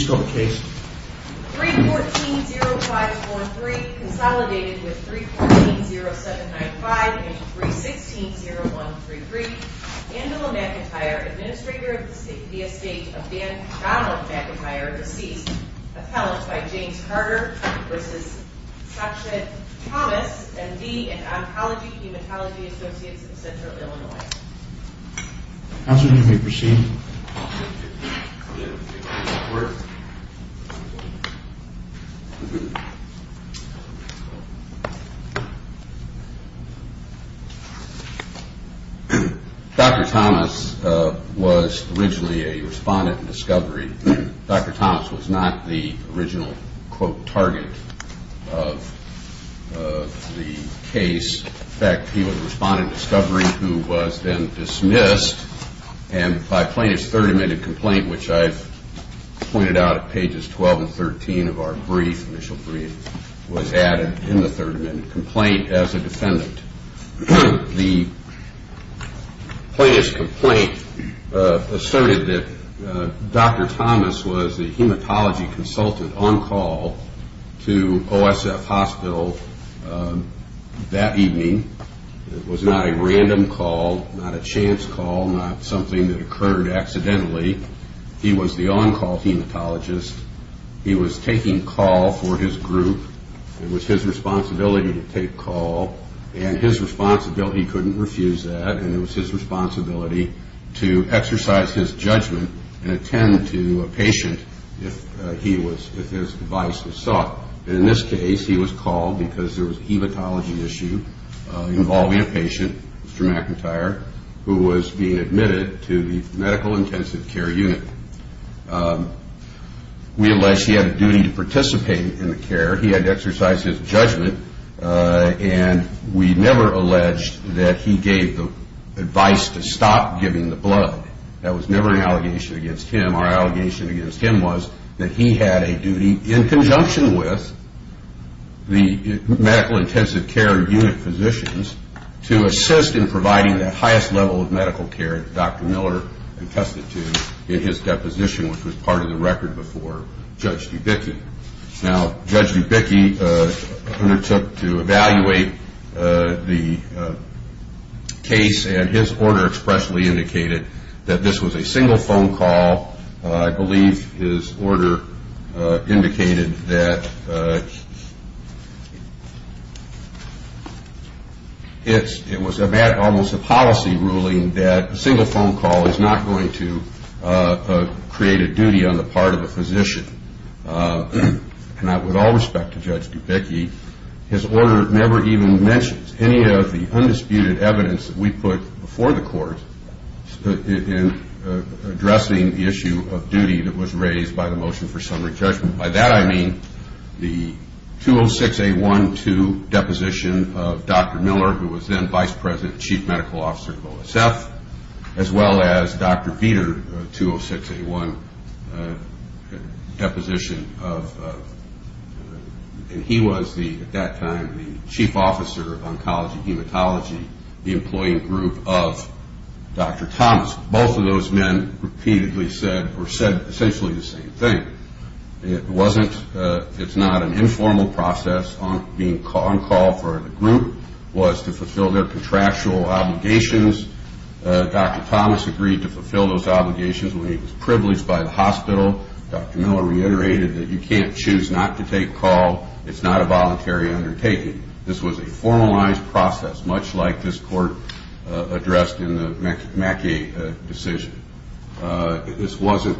314-0543 Consolidated with 314-0795 and 316-0133 Angela McIntyre, Administrator of the Estate of Dan Donald McIntyre, deceased. Appellant by James Carter v. Sacha Thomas, MD and Oncology-Hematology Associates of Central Illinois. Counselor, you may proceed. Dr. Thomas was originally a respondent in Discovery. Dr. Thomas was not the original, quote, target of the case. In fact, he was a respondent in Discovery who was then dismissed. And by plaintiff's third amended complaint, which I've pointed out at pages 12 and 13 of our brief, initial brief, was added in the third amended complaint as a defendant. The plaintiff's complaint asserted that Dr. Thomas was a hematology consultant on call to OSF Hospital. That evening was not a random call, not a chance call, not something that occurred accidentally. He was the on-call hematologist. He was taking call for his group. It was his responsibility to take call, and his responsibility couldn't refuse that, and it was his responsibility to exercise his judgment and attend to a patient if his advice was sought. In this case, he was called because there was a hematology issue involving a patient, Mr. McIntyre, who was being admitted to the medical intensive care unit. We alleged he had a duty to participate in the care. He had to exercise his judgment, and we never alleged that he gave the advice to stop giving the blood. That was never an allegation against him. Our allegation against him was that he had a duty, in conjunction with the medical intensive care unit physicians, to assist in providing the highest level of medical care that Dr. Miller attested to in his deposition, which was part of the record before Judge Dubicki. Now, Judge Dubicki undertook to evaluate the case, and his order expressly indicated that this was a single phone call. I believe his order indicated that it was almost a policy ruling that a single phone call is not going to create a duty on the part of a physician. And with all respect to Judge Dubicki, his order never even mentions any of the undisputed evidence that we put before the court in addressing the issue of duty that was raised by the motion for summary judgment. By that I mean the 206-A-1-2 deposition of Dr. Miller, who was then vice president and chief medical officer of OSF, as well as Dr. Vietor, 206-A-1 deposition of, and he was at that time the chief officer of oncology, hematology, the employee group of Dr. Thomas. Both of those men repeatedly said, or said essentially the same thing. It wasn't, it's not an informal process. On call for the group was to fulfill their contractual obligations. Dr. Thomas agreed to fulfill those obligations when he was privileged by the hospital. Dr. Miller reiterated that you can't choose not to take call. It's not a voluntary undertaking. This was a formalized process, much like this court addressed in the Mackey decision. This wasn't,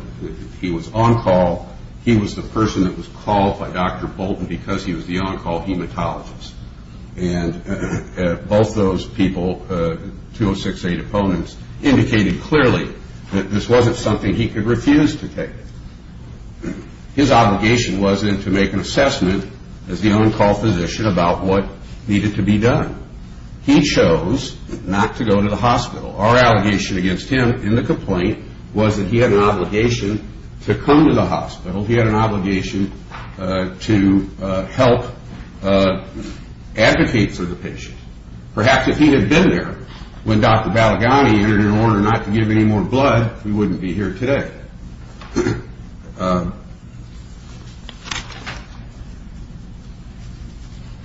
he was on call. He was the person that was called by Dr. Bolton because he was the on-call hematologist. And both those people, 206-A deponents, indicated clearly that this wasn't something he could refuse to take. His obligation was then to make an assessment as the on-call physician about what needed to be done. He chose not to go to the hospital. Our allegation against him in the complaint was that he had an obligation to come to the hospital. He had an obligation to help advocate for the patient. Perhaps if he had been there when Dr. Balagany entered in order not to give any more blood, we wouldn't be here today.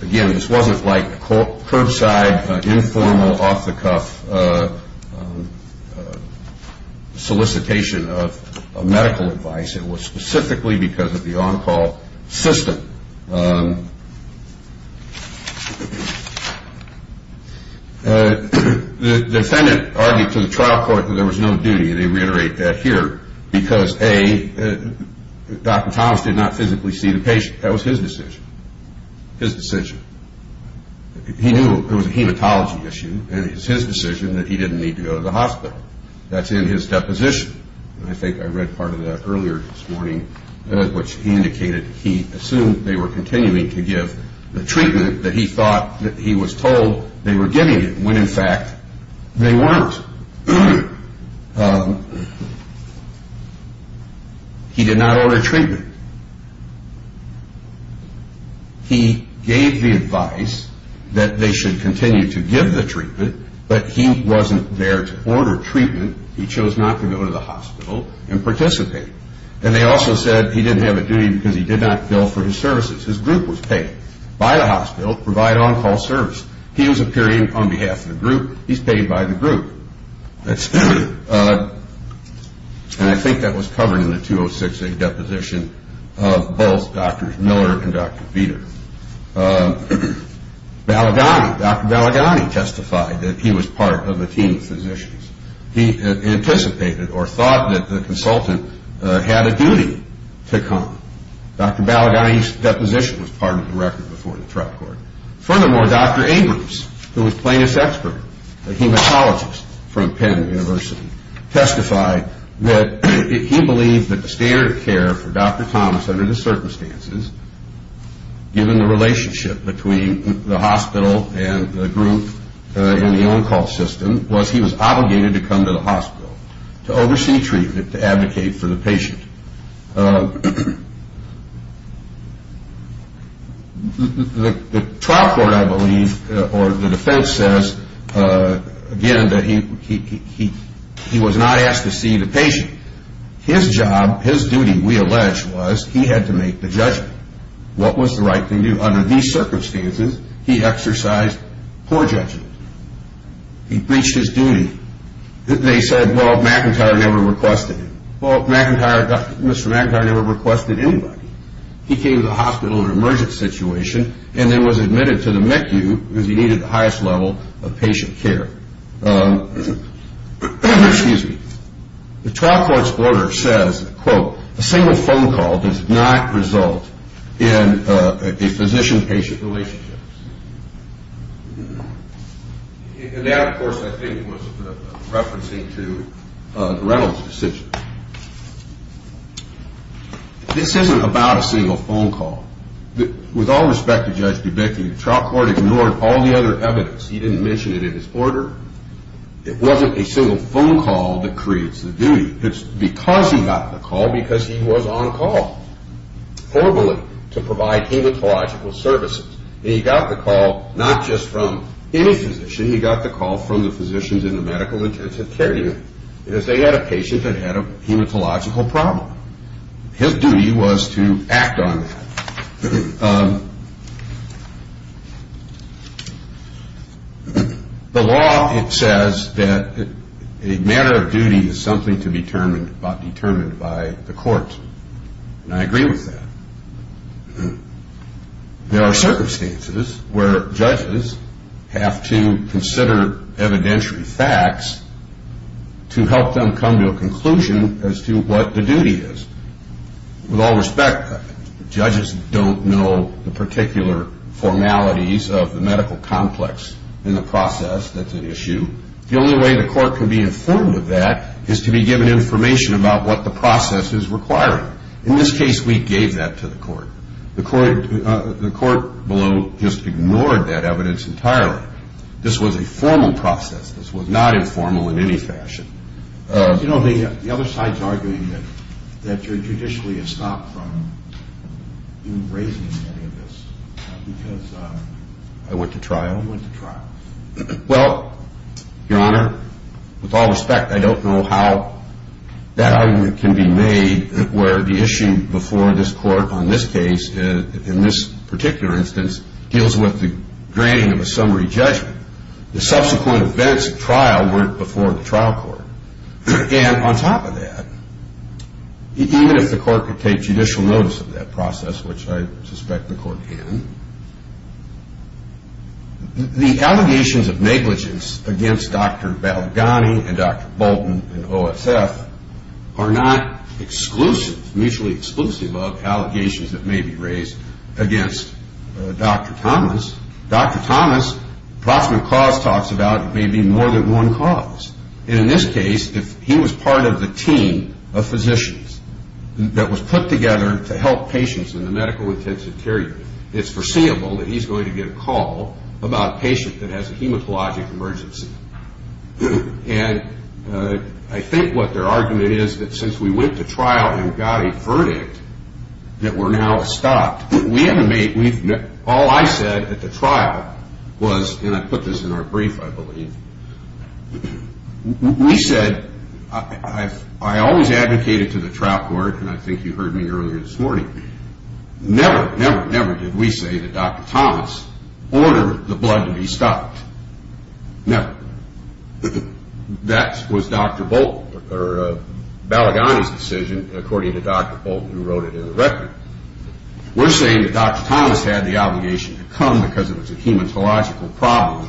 Again, this wasn't like curbside, informal, off-the-cuff solicitation of medical advice. It was specifically because of the on-call system. The defendant argued to the trial court that there was no duty. They reiterate that here because, A, Dr. Thomas did not physically see the patient. That was his decision, his decision. He knew it was a hematology issue, and it was his decision that he didn't need to go to the hospital. That's in his deposition. I think I read part of that earlier this morning, which he indicated he assumed they were continuing to give the treatment that he thought that he was told they were giving when, in fact, they weren't. He did not order treatment. He gave the advice that they should continue to give the treatment, but he wasn't there to order treatment. He chose not to go to the hospital and participate. And they also said he didn't have a duty because he did not bill for his services. His group was paid by the hospital to provide on-call service. He was appearing on behalf of the group. He's paid by the group. And I think that was covered in the 206A deposition of both Drs. Miller and Dr. Veeder. Balagany, Dr. Balagany testified that he was part of a team of physicians. He anticipated or thought that the consultant had a duty to come. Dr. Balagany's deposition was part of the record before the trial court. Furthermore, Dr. Abrams, who was Plaintiff's expert, a hematologist from Penn University, testified that he believed that the standard of care for Dr. Thomas under the circumstances, given the relationship between the hospital and the group and the on-call system, was he was obligated to come to the hospital to oversee treatment, to advocate for the patient. The trial court, I believe, or the defense says, again, that he was not asked to see the patient. His job, his duty, we allege, was he had to make the judgment. What was the right thing to do? Under these circumstances, he exercised poor judgment. He breached his duty. They said, well, McIntyre never requested him. Well, Mr. McIntyre never requested anybody. He came to the hospital in an emergency situation and then was admitted to the MECU because he needed the highest level of patient care. The trial court's order says, quote, A single phone call does not result in a physician-patient relationship. And that, of course, I think was referencing to the Reynolds decision. This isn't about a single phone call. With all respect to Judge DeBakey, the trial court ignored all the other evidence. He didn't mention it in his order. It wasn't a single phone call that creates the duty. It's because he got the call because he was on call verbally to provide hematological services. He got the call not just from any physician. He got the call from the physicians in the medical intensive care unit because they had a patient that had a hematological problem. His duty was to act on that. The law, it says that a matter of duty is something to be determined by the court, and I agree with that. There are circumstances where judges have to consider evidentiary facts to help them come to a conclusion as to what the duty is. With all respect, judges don't know the particular formalities of the medical complex in the process that's at issue. The only way the court can be informed of that is to be given information about what the process is requiring. In this case, we gave that to the court. The court below just ignored that evidence entirely. This was a formal process. This was not informal in any fashion. The other side is arguing that you're judicially estopped from raising any of this because I went to trial. Well, Your Honor, with all respect, I don't know how that argument can be made where the issue before this court on this case, in this particular instance, deals with the granting of a summary judgment. The subsequent events of trial weren't before the trial court. And on top of that, even if the court could take judicial notice of that process, which I suspect the court can, the allegations of negligence against Dr. Balaghani and Dr. Bolton in OSF are not exclusive, mutually exclusive of allegations that may be raised against Dr. Thomas. Dr. Thomas, Brockman Claus talks about, may be more than one cause. And in this case, if he was part of the team of physicians that was put together to help patients in the medical intensive care unit, it's foreseeable that he's going to get a call about a patient that has a hematologic emergency. And I think what their argument is that since we went to trial and got a verdict that we're now estopped, all I said at the trial was, and I put this in our brief, I believe, we said, I always advocated to the trial court, and I think you heard me earlier this morning, never, never, never did we say that Dr. Thomas ordered the blood to be stopped. Never. That was Dr. Bolton, or Balaghani's decision, according to Dr. Bolton who wrote it in the record. We're saying that Dr. Thomas had the obligation to come because it was a hematological problem,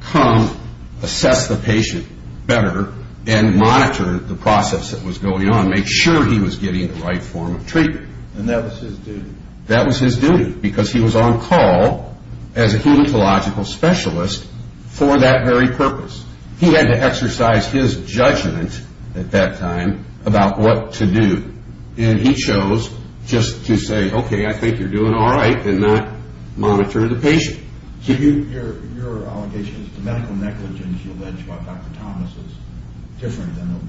come, assess the patient better, and monitor the process that was going on, make sure he was getting the right form of treatment. And that was his duty. That was his duty because he was on call as a hematological specialist for that very purpose. He had to exercise his judgment at that time about what to do. And he chose just to say, okay, I think you're doing all right, and not monitor the patient. So your allegation is the medical negligence you allege about Dr. Thomas is different than what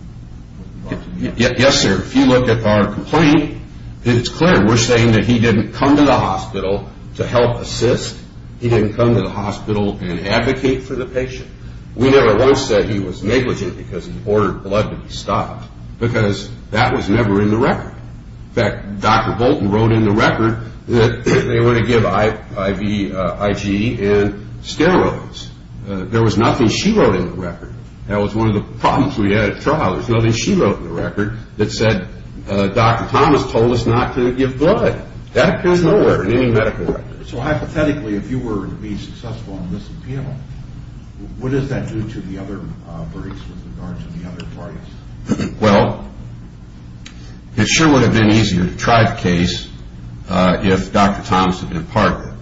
you brought to me? Yes, sir. If you look at our complaint, it's clear. We're saying that he didn't come to the hospital to help assist. He didn't come to the hospital and advocate for the patient. We never once said he was negligent because he ordered blood to be stopped because that was never in the record. In fact, Dr. Bolton wrote in the record that they were to give IgE and steroids. There was nothing she wrote in the record. That was one of the problems we had at trial. There was nothing she wrote in the record that said Dr. Thomas told us not to give blood. That appears nowhere in any medical record. So hypothetically, if you were to be successful in this appeal, what does that do to the other parties? Well, it sure would have been easier to try the case if Dr. Thomas had been a partner.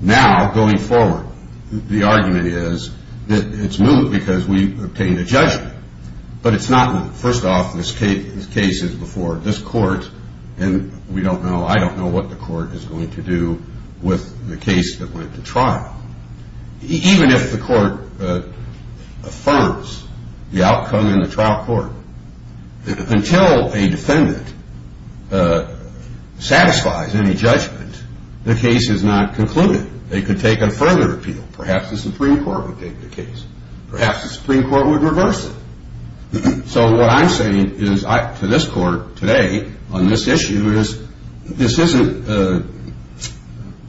Now, going forward, the argument is that it's moot because we've obtained a judgment. But it's not moot. I don't know what the court is going to do with the case that went to trial. Even if the court affirms the outcome in the trial court, until a defendant satisfies any judgment, the case is not concluded. They could take a further appeal. Perhaps the Supreme Court would take the case. Perhaps the Supreme Court would reverse it. So what I'm saying to this court today on this issue is this isn't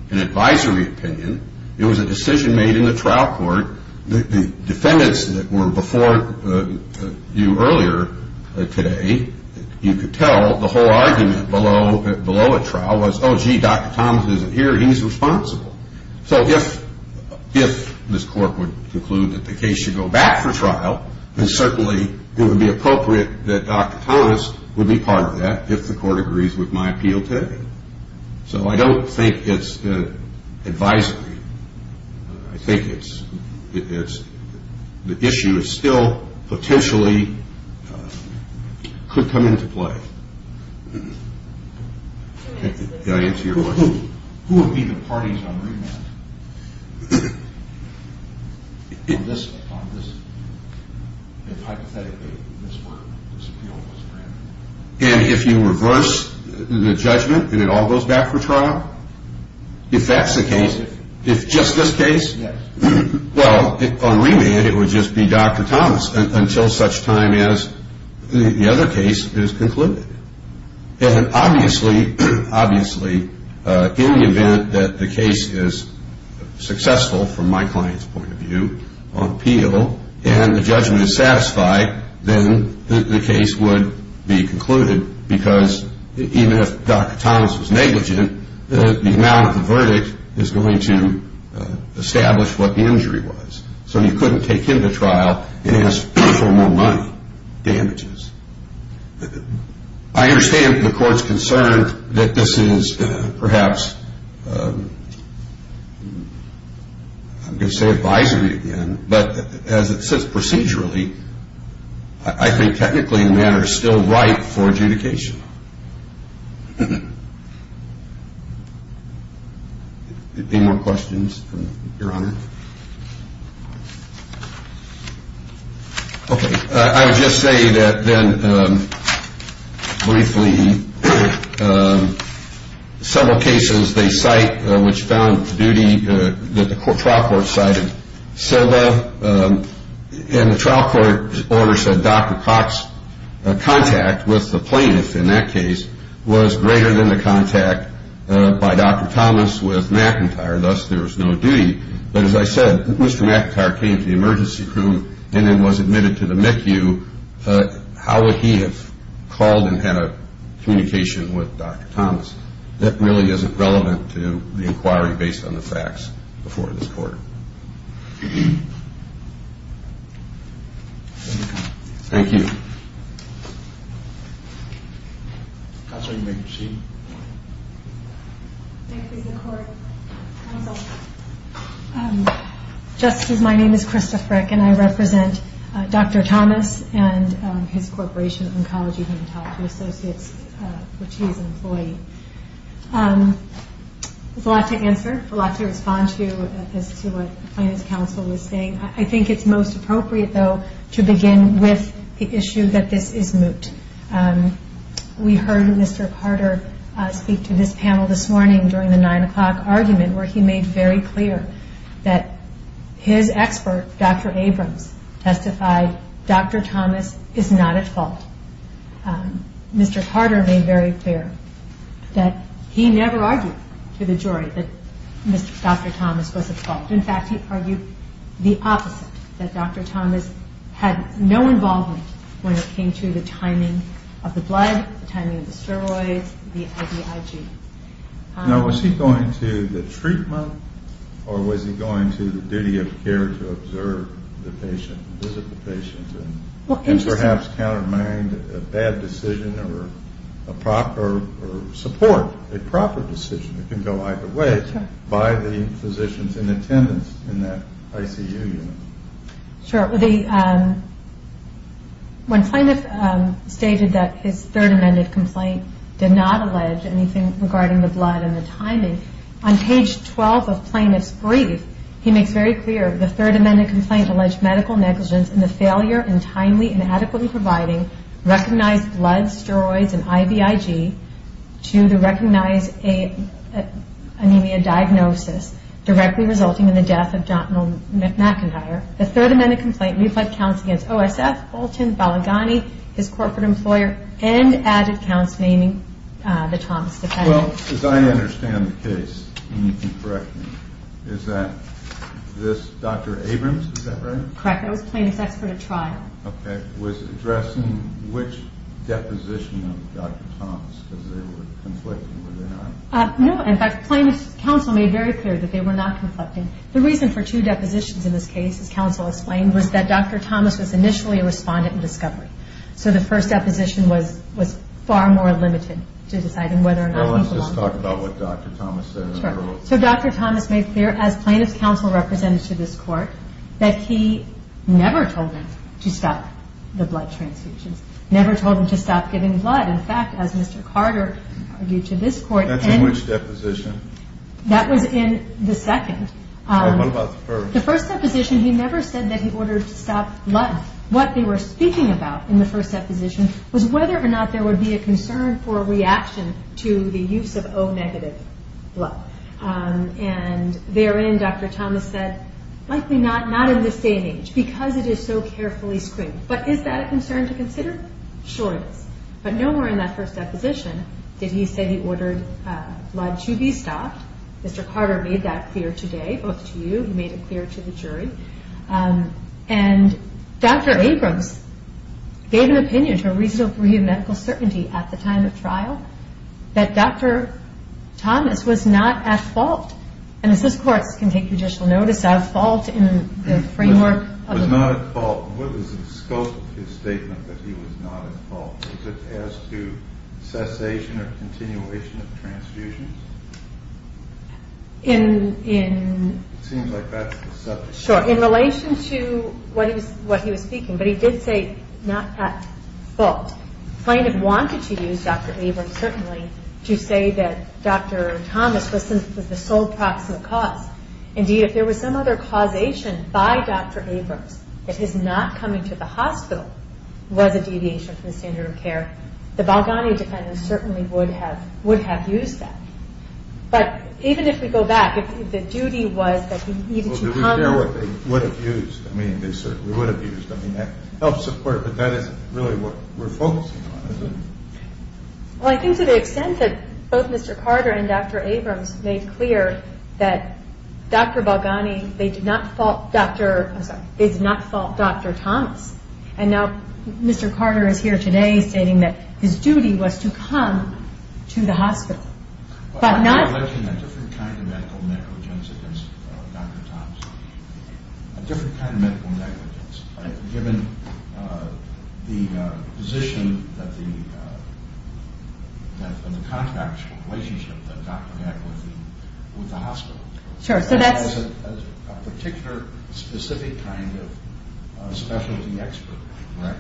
an advisory opinion. It was a decision made in the trial court. The defendants that were before you earlier today, you could tell the whole argument below a trial was, oh, gee, Dr. Thomas isn't here. He's responsible. So if this court would conclude that the case should go back for trial, then certainly it would be appropriate that Dr. Thomas would be part of that if the court agrees with my appeal today. So I don't think it's an advisory. I think the issue still potentially could come into play. Did I answer your question? Who would be the parties on remand if hypothetically this appeal was granted? And if you reverse the judgment and it all goes back for trial, if that's the case, if just this case, well, on remand it would just be Dr. Thomas until such time as the other case is concluded. And obviously in the event that the case is successful from my client's point of view on appeal and the judgment is satisfied, then the case would be concluded because even if Dr. Thomas was negligent, the amount of the verdict is going to establish what the injury was. So you couldn't take him to trial and ask for more money, damages. I understand the court's concern that this is perhaps, I'm going to say advisory again, but as it sits procedurally, I think technically the matter is still ripe for adjudication. Any more questions, Your Honor? Okay. I would just say that then briefly, several cases they cite which found duty, that the trial court cited Silva and the trial court orders that Dr. Cox contact with the plaintiff in that case was greater than the contact by Dr. Thomas with McIntyre, thus there was no duty. But as I said, Mr. McIntyre came to the emergency room and then was admitted to the MECU. How would he have called and had a communication with Dr. Thomas? That really isn't relevant to the inquiry based on the facts before this court. Thank you. Counsel, you may proceed. Thank you, Mr. Court. Counsel, just as my name is Krista Frick and I represent Dr. Thomas and his Corporation of Oncology and Hematology Associates, which he is an employee. There's a lot to answer, a lot to respond to as to what the plaintiff's counsel was saying. I think it's most appropriate, though, to begin with the issue that this is moot. We heard Mr. Carter speak to this panel this morning during the 9 o'clock argument where he made very clear that his expert, Dr. Abrams, testified Dr. Thomas is not at fault. Mr. Carter made very clear that he never argued to the jury that Dr. Thomas was at fault. In fact, he argued the opposite, that Dr. Thomas had no involvement when it came to the timing of the blood, the timing of the steroids, the IVIG. Now, was he going to the treatment or was he going to the duty of care to observe the patient, visit the patient, and perhaps countermind a bad decision or support a proper decision? It can go either way by the physicians in attendance in that ICU unit. Sure. When plaintiff stated that his third amended complaint did not allege anything regarding the blood and the timing, on page 12 of plaintiff's brief, he makes very clear the third amended complaint alleged medical negligence in the failure in timely and adequately providing recognized blood, steroids, and IVIG to the recognized anemia diagnosis directly resulting in the death of Dr. McIntyre. The third amended complaint reflected counts against OSF, Bolton, Balaghani, his corporate employer, and added counts naming the Thomas defendant. Well, as I understand the case, and you can correct me, is that this Dr. Abrams, is that right? Correct. That was plaintiff's expert at trial. Okay. Was it addressing which deposition of Dr. Thomas? Because they were conflicting, were they not? No. In fact, plaintiff's counsel made very clear that they were not conflicting. The reason for two depositions in this case, as counsel explained, was that Dr. Thomas was initially a respondent in discovery. So the first deposition was far more limited to deciding whether or not he belonged to this case. Well, let's just talk about what Dr. Thomas said. Sure. So Dr. Thomas made clear, as plaintiff's counsel represented to this court, that he never told him to stop the blood transfusions, never told him to stop giving blood. In fact, as Mr. Carter argued to this court... That's in which deposition? That was in the second. What about the first? The first deposition, he never said that he ordered to stop blood. What they were speaking about in the first deposition was whether or not there would be a concern for a reaction to the use of O-negative blood. And therein, Dr. Thomas said, likely not, not in this day and age, because it is so carefully screened. But is that a concern to consider? Sure it is. But nowhere in that first deposition did he say he ordered blood to be stopped. Mr. Carter made that clear today, both to you, he made it clear to the jury. And Dr. Abrams gave an opinion to a reasonable degree of medical certainty at the time of trial, that Dr. Thomas was not at fault. And as this court can take judicial notice of, fault in the framework... Was not at fault. What was the scope of his statement that he was not at fault? Was it as to cessation or continuation of transfusions? In... Sure, in relation to what he was speaking, but he did say not at fault. Plaintiff wanted to use Dr. Abrams, certainly, to say that Dr. Thomas was the sole proximal cause. Indeed, if there was some other causation by Dr. Abrams, that his not coming to the hospital was a deviation from the standard of care, the Balgani defendants certainly would have used that. But even if we go back, if the duty was that he needed to come... Well, did we hear what they would have used? I mean, they certainly would have used... I mean, that helps support, but that isn't really what we're focusing on, is it? Well, I think to the extent that both Mr. Carter and Dr. Abrams made clear that Dr. Balgani, they did not fault Dr., I'm sorry, they did not fault Dr. Thomas. And now Mr. Carter is here today stating that his duty was to come to the hospital, but not... But I mentioned a different kind of medical negligence against Dr. Thomas. A different kind of medical negligence, right? Given the position that the... and the contractual relationship that Dr. had with the hospital. Sure, so that's... A particular specific kind of specialty expert. Right.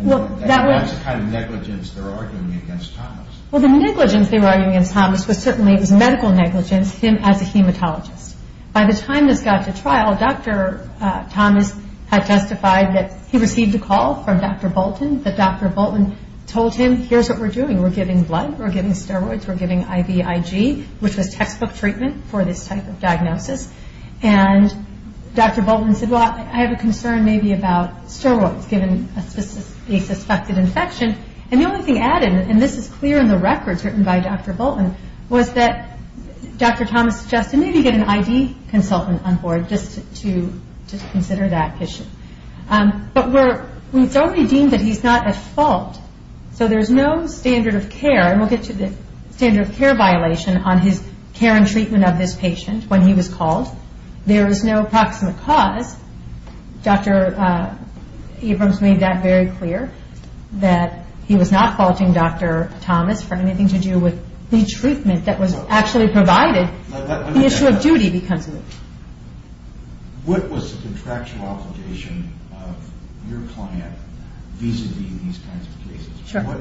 Well, that was... That's the kind of negligence they're arguing against Thomas. Well, the negligence they were arguing against Thomas was certainly, it was medical negligence, him as a hematologist. By the time this got to trial, Dr. Thomas had testified that he received a call from Dr. Bolton, that Dr. Bolton told him, here's what we're doing, we're giving blood, we're giving steroids, we're giving IVIG, which was textbook treatment for this type of diagnosis. And Dr. Bolton said, well, I have a concern maybe about steroids, given a suspected infection. And the only thing added, and this is clear in the records written by Dr. Bolton, was that Dr. Thomas suggested maybe get an ID consultant on board just to consider that issue. But we've already deemed that he's not at fault. So there's no standard of care, and we'll get to the standard of care violation, on his care and treatment of this patient when he was called. There is no proximate cause. Dr. Abrams made that very clear, that he was not faulting Dr. Thomas for anything to do with the treatment that was actually provided. The issue of duty becomes the issue. What was the contractual obligation of your client vis-a-vis these kinds of cases? What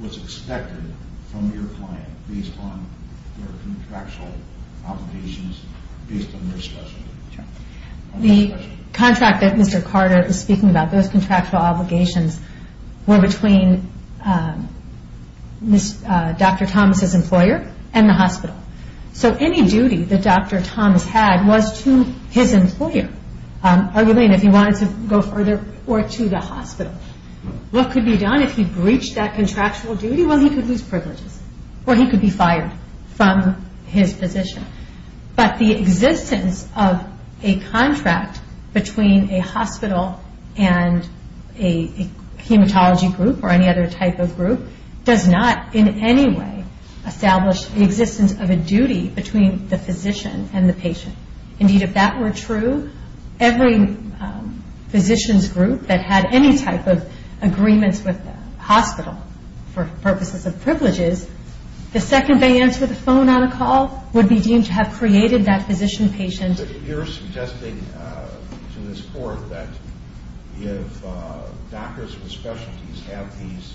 was expected from your client based on their contractual obligations, based on their specialty? The contract that Mr. Carter is speaking about, those contractual obligations, were between Dr. Thomas' employer and the hospital. So any duty that Dr. Thomas had was to his employer, arguing if he wanted to go further, or to the hospital. What could be done if he breached that contractual duty? Well, he could lose privileges, or he could be fired from his position. But the existence of a contract between a hospital and a hematology group, or any other type of group, does not in any way establish the existence of a duty between the physician and the patient. Indeed, if that were true, every physician's group that had any type of agreements with the hospital for purposes of privileges, the second they answered the phone on a call would be deemed to have created that physician-patient. So you're suggesting to this court that if doctors with specialties have these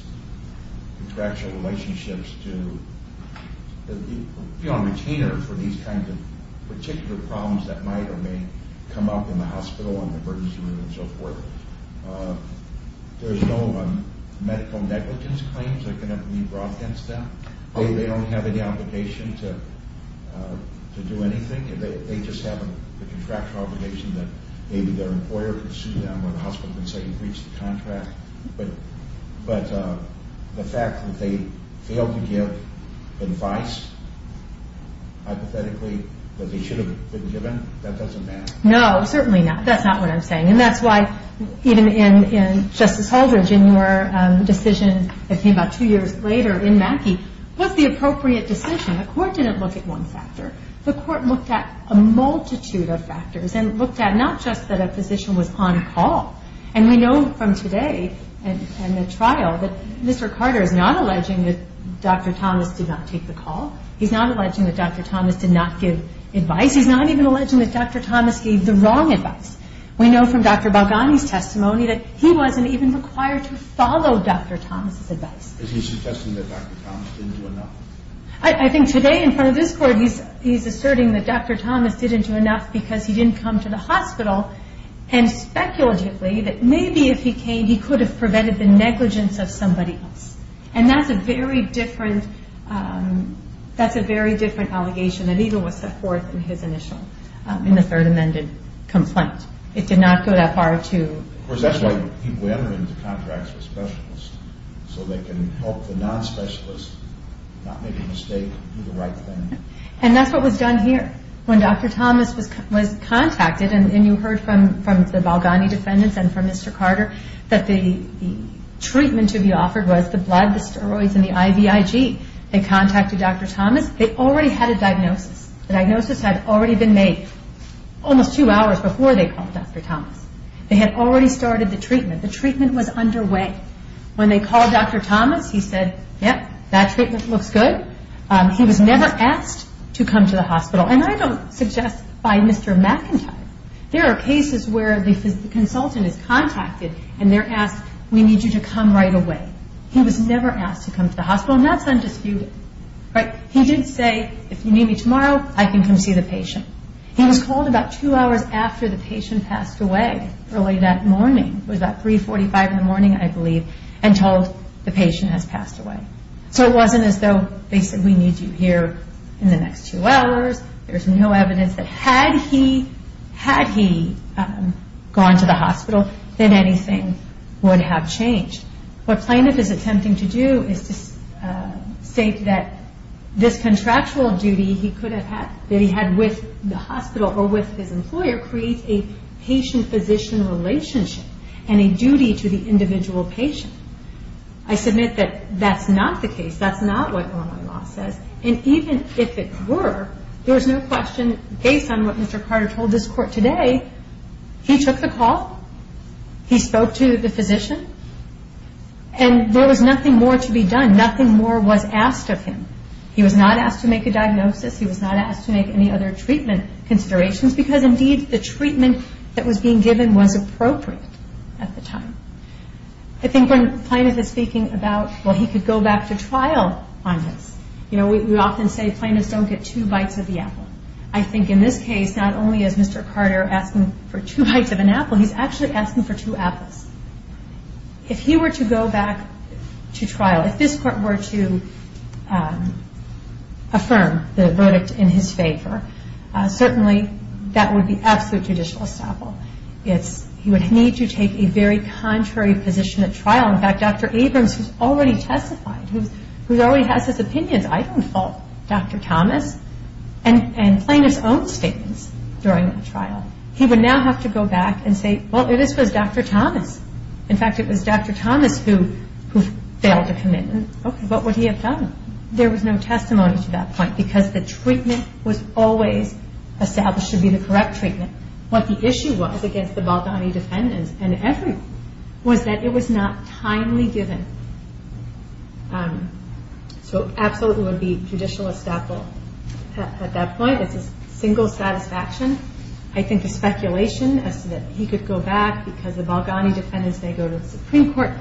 contractual relationships to be on retainer for these kinds of particular problems that might or may come up in the hospital, on the emergency room, and so forth, there's no medical negligence claims that can be brought against them? They don't have any obligation to do anything? They just have a contractual obligation that maybe their employer can sue them, or the hospital can say he breached the contract? But the fact that they failed to give advice, hypothetically, that they should have been given, that doesn't matter? No, certainly not. That's not what I'm saying. And that's why even in Justice Holdren's decision that came about two years later in Mackey, what's the appropriate decision? The court didn't look at one factor. The court looked at a multitude of factors and looked at not just that a physician was on call. And we know from today and the trial that Mr. Carter is not alleging that Dr. Thomas did not take the call. He's not alleging that Dr. Thomas did not give advice. He's not even alleging that Dr. Thomas gave the wrong advice. We know from Dr. Balgani's testimony that he wasn't even required to follow Dr. Thomas' advice. Is he suggesting that Dr. Thomas didn't do enough? I think today in front of this court he's asserting that Dr. Thomas didn't do enough because he didn't come to the hospital and speculatively that maybe if he came he could have prevented the negligence of somebody else. And that's a very different allegation that he was the fourth in his initial in the third amended complaint. It did not go that far to... Of course that's why he went into contracts with specialists so they can help the non-specialists not make a mistake and do the right thing. And that's what was done here. When Dr. Thomas was contacted and you heard from the Balgani defendants and from Mr. Carter that the treatment to be offered was the blood, the steroids and the IVIG. They contacted Dr. Thomas. They already had a diagnosis. The diagnosis had already been made almost two hours before they called Dr. Thomas. They had already started the treatment. The treatment was underway. When they called Dr. Thomas he said, yep, that treatment looks good. He was never asked to come to the hospital. And I don't suggest by Mr. McIntyre. There are cases where the consultant is contacted and they're asked, we need you to come right away. He was never asked to come to the hospital. And that's undisputed. He did say, if you need me tomorrow, I can come see the patient. He was called about two hours after the patient passed away, early that morning. It was about 3.45 in the morning, I believe, and told the patient has passed away. So it wasn't as though they said, we need you here in the next two hours. There's no evidence that had he gone to the hospital, that anything would have changed. What plaintiff is attempting to do is to state that this contractual duty he could have had, that he had with the hospital or with his employer, creates a patient-physician relationship and a duty to the individual patient. I submit that that's not the case. That's not what Illinois law says. And even if it were, there was no question, based on what Mr. Carter told this court today, he took the call, he spoke to the physician, and there was nothing more to be done. Nothing more was asked of him. He was not asked to make a diagnosis. He was not asked to make any other treatment considerations because, indeed, the treatment that was being given was appropriate at the time. I think when plaintiff is speaking about, well, he could go back to trial on this. You know, we often say plaintiffs don't get two bites of the apple. I think in this case, not only is Mr. Carter asking for two bites of an apple, he's actually asking for two apples. If he were to go back to trial, if this court were to affirm the verdict in his favor, certainly that would be absolute judicial estoppel. In fact, Dr. Abrams, who's already testified, who already has his opinions, I don't fault Dr. Thomas, and plaintiff's own statements during the trial, he would now have to go back and say, well, this was Dr. Thomas. In fact, it was Dr. Thomas who failed to commit. Okay, what would he have done? There was no testimony to that point because the treatment was always established to be the correct treatment. What the issue was against the Balgani defendants and everyone was that it was not timely given. So absolutely it would be judicial estoppel at that point. It's a single satisfaction. I think the speculation as to that he could go back because the Balgani defendants may go to the Supreme Court,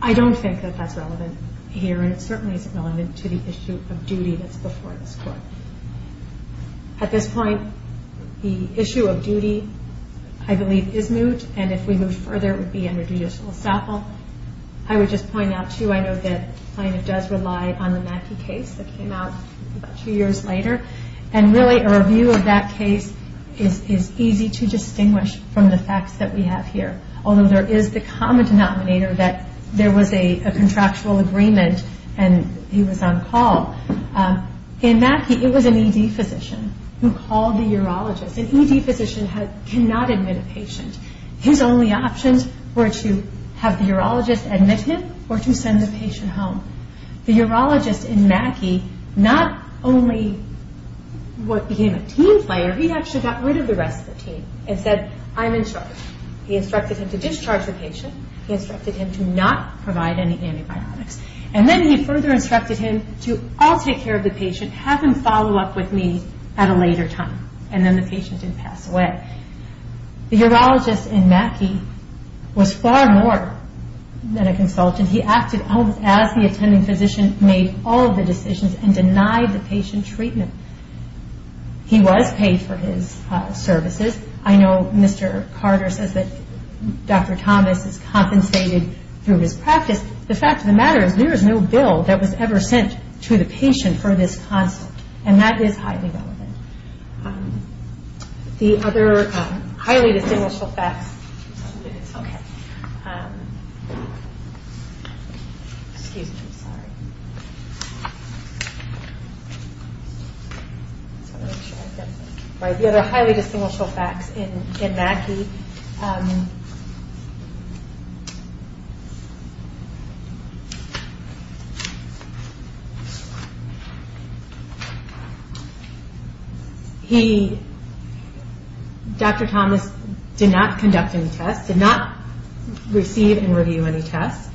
I don't think that that's relevant here, and it certainly isn't relevant to the issue of duty that's before this court. At this point, the issue of duty, I believe, is moot, and if we move further it would be under judicial estoppel. I would just point out, too, I know that plaintiff does rely on the Mackey case that came out about two years later, and really a review of that case is easy to distinguish from the facts that we have here, although there is the common denominator that there was a contractual agreement and he was on call. In Mackey it was an ED physician who called the urologist. An ED physician cannot admit a patient. His only options were to have the urologist admit him or to send the patient home. The urologist in Mackey not only became a team player, he actually got rid of the rest of the team and said, I'm in charge. He instructed him to discharge the patient. He instructed him to not provide any antibiotics. And then he further instructed him to, I'll take care of the patient. Have him follow up with me at a later time. And then the patient did pass away. The urologist in Mackey was far more than a consultant. He acted almost as the attending physician, made all of the decisions, and denied the patient treatment. He was paid for his services. I know Mr. Carter says that Dr. Thomas is compensated through his practice. The fact of the matter is there is no bill that was ever sent to the patient for this consult. And that is highly relevant. The other highly distinguishable facts in Mackey. Dr. Thomas did not conduct any tests, did not receive and review any tests.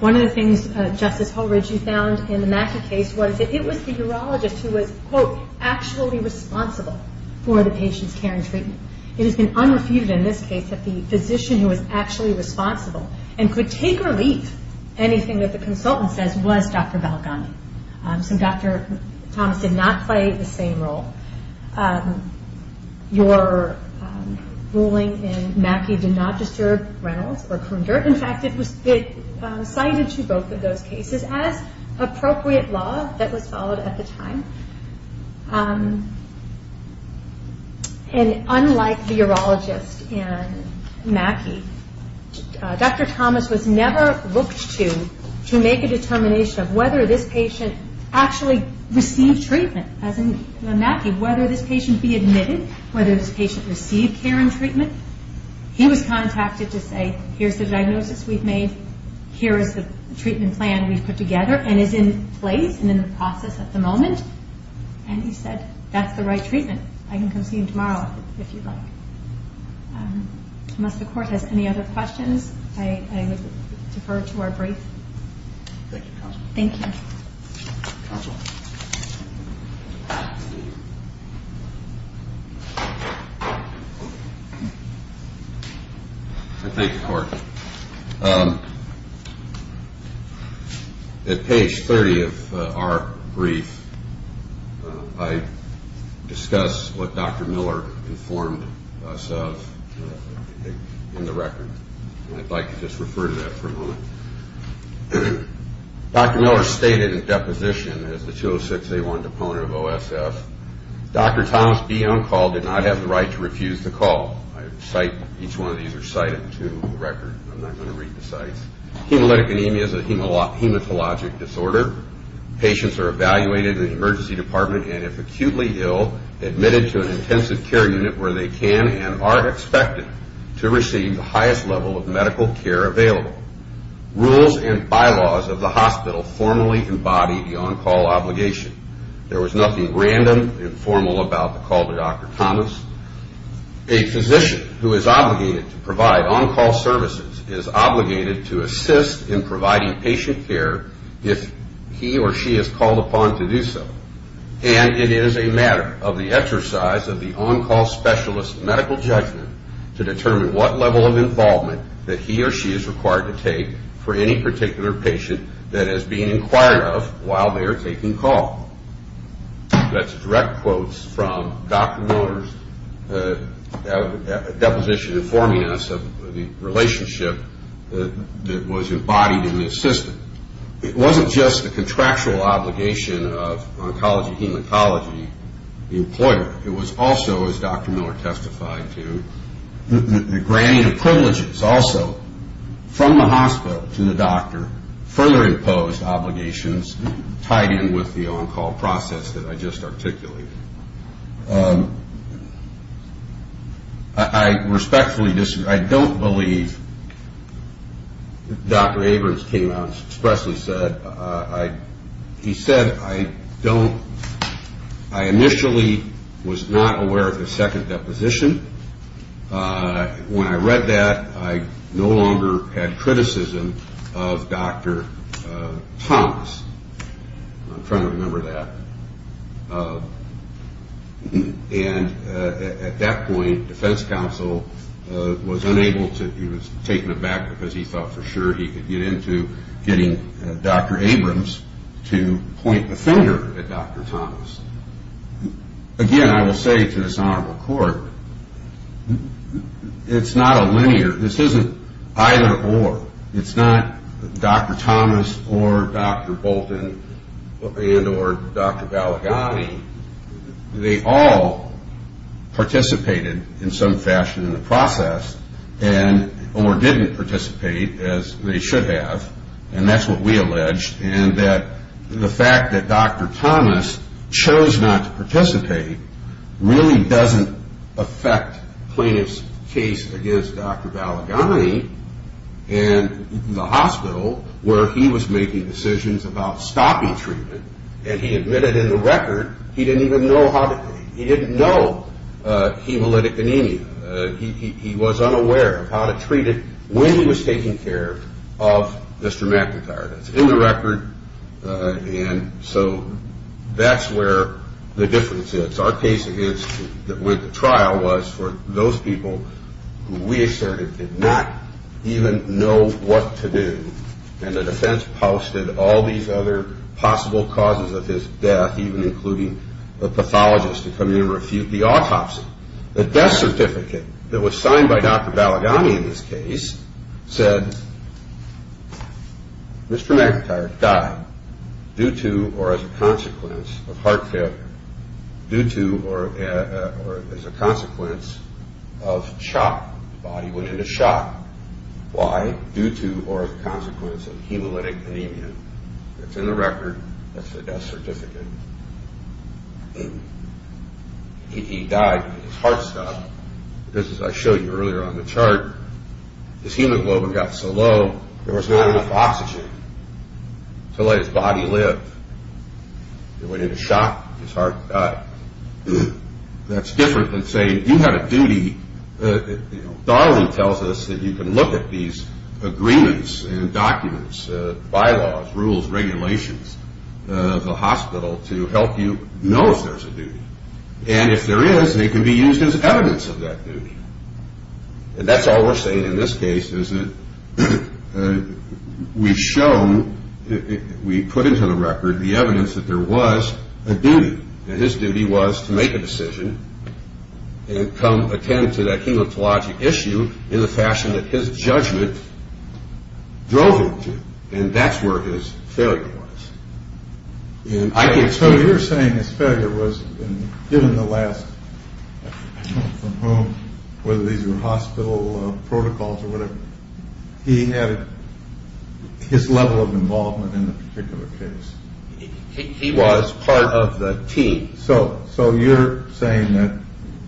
One of the things, Justice Holridge, you found in the Mackey case was that it was the urologist who was, quote, actually responsible for the patient's care and treatment. It has been unrefuted in this case that the physician who was actually responsible and could take or leave anything that the consultant says was Dr. Balgamy. So Dr. Thomas did not play the same role. Your ruling in Mackey did not disturb Reynolds or Kunder. In fact, it cited to both of those cases as appropriate law that was followed at the time. And unlike the urologist in Mackey, Dr. Thomas was never looked to to make a determination of whether this patient actually received treatment. As in Mackey, whether this patient be admitted, whether this patient receive care and treatment. He was contacted to say, here's the diagnosis we've made, here is the treatment plan we've put together and is in place and in the process at the moment. And he said, that's the right treatment. I can come see you tomorrow if you'd like. Unless the Court has any other questions, I would defer to our brief. Thank you, Counsel. Thank you. Counsel. I thank the Court. At page 30 of our brief, I discuss what Dr. Miller informed us of in the record. And I'd like to just refer to that for a moment. Dr. Miller stated in deposition as the 206A1 deponent of OSF, Dr. Thomas B. Uncall did not have the right to refuse the call. Each one of these are cited to the record. I'm not going to read the cites. Hemolytic anemia is a hematologic disorder. Patients are evaluated in the emergency department and if acutely ill, admitted to an intensive care unit where they can and are expected to receive the highest level of medical care available. Rules and bylaws of the hospital formally embody the Uncall obligation. There was nothing random and formal about the call to Dr. Thomas. A physician who is obligated to provide Uncall services is obligated to assist in providing patient care if he or she is called upon to do so. And it is a matter of the exercise of the Uncall specialist's medical judgment to determine what level of involvement that he or she is required to take for any particular patient that is being inquired of while they are taking call. That's direct quotes from Dr. Miller's deposition informing us of the relationship that was embodied in the assistant. It wasn't just the contractual obligation of oncology, hematology, the employer. It was also, as Dr. Miller testified to, the granting of privileges also from the hospital to the doctor, further imposed obligations tied in with the Uncall process that I just articulated. I respectfully disagree. I don't believe Dr. Abrams came out and expressly said, he said, I don't, I initially was not aware of the second deposition. When I read that, I no longer had criticism of Dr. Thomas. I'm trying to remember that. And at that point, defense counsel was unable to, he was taken aback because he thought for sure he could get into getting Dr. Abrams to point the finger at Dr. Thomas. Again, I will say to this honorable court, it's not a linear, this isn't either or. It's not Dr. Thomas or Dr. Bolton and or Dr. Balaghani. They all participated in some fashion in the process, and or didn't participate as they should have, and that's what we allege, and that the fact that Dr. Thomas chose not to participate really doesn't affect plaintiff's case against Dr. Balaghani, and the hospital where he was making decisions about stopping treatment, and he admitted in the record he didn't even know how to, he didn't know hemolytic anemia. He was unaware of how to treat it when he was taking care of Mr. McIntyre. That's in the record, and so that's where the difference is. Our case with the trial was for those people who we asserted did not even know what to do, and the defense posted all these other possible causes of his death, even including a pathologist to come in and refute the autopsy. The death certificate that was signed by Dr. Balaghani in this case said, Mr. McIntyre died due to or as a consequence of heart failure, due to or as a consequence of shock. The body went into shock. Why? Due to or as a consequence of hemolytic anemia. That's in the record. That's the death certificate. He died because his heart stopped. This is what I showed you earlier on the chart. His hemoglobin got so low there was not enough oxygen to let his body live. It went into shock. His heart died. That's different than saying you have a duty. Donnelly tells us that you can look at these agreements and documents, bylaws, rules, regulations, of the hospital to help you know if there's a duty. And if there is, they can be used as evidence of that duty. And that's all we're saying in this case is that we've shown, we put into the record, the evidence that there was a duty. And his duty was to make a decision and come attend to that hematologic issue in the fashion that his judgment drove him to. And that's where his failure was. So you're saying his failure was given the last, from whom, whether these were hospital protocols or whatever, he had his level of involvement in the particular case. He was part of the team. So you're saying that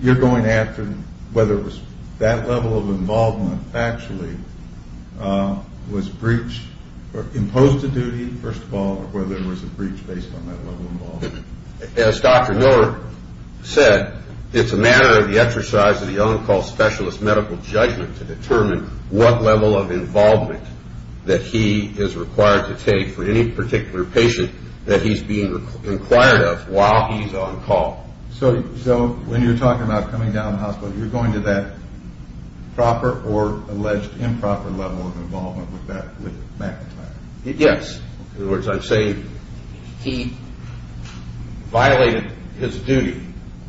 you're going after whether it was that level of involvement actually was breached or imposed a duty, first of all, or whether there was a breach based on that level of involvement. As Dr. Miller said, it's a matter of the exercise of the on-call specialist medical judgment to determine what level of involvement that he is required to take for any particular patient that he's being inquired of while he's on call. So when you're talking about coming down to the hospital, you're going to that proper or alleged improper level of involvement with back-to-back? Yes. In other words, I'm saying he violated his duty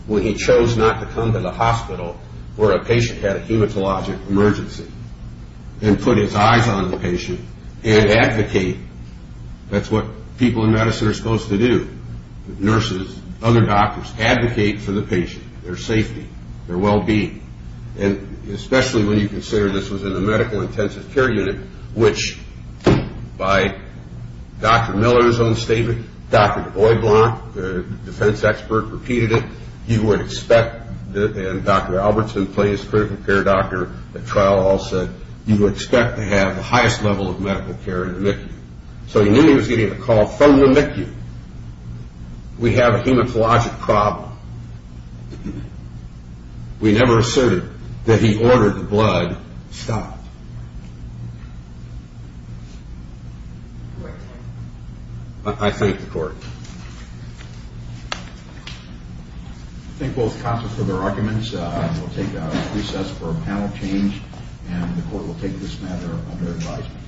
when he chose not to come to the hospital where a patient had a hematologic emergency and put his eyes on the patient and advocate. That's what people in medicine are supposed to do. Nurses, other doctors advocate for the patient, their safety, their well-being, and especially when you consider this was in a medical intensive care unit, which by Dr. Miller's own statement, Dr. DuBois Blanc, the defense expert, repeated it. He would expect, and Dr. Albertson, playing his critical care doctor at trial, said you would expect to have the highest level of medical care in the MICU. So he knew he was getting a call from the MICU. We have a hematologic problem. We never asserted that he ordered the blood stopped. I thank the court. I thank both counsels for their arguments. We'll take a recess for a panel change, and the court will take this matter under advisement.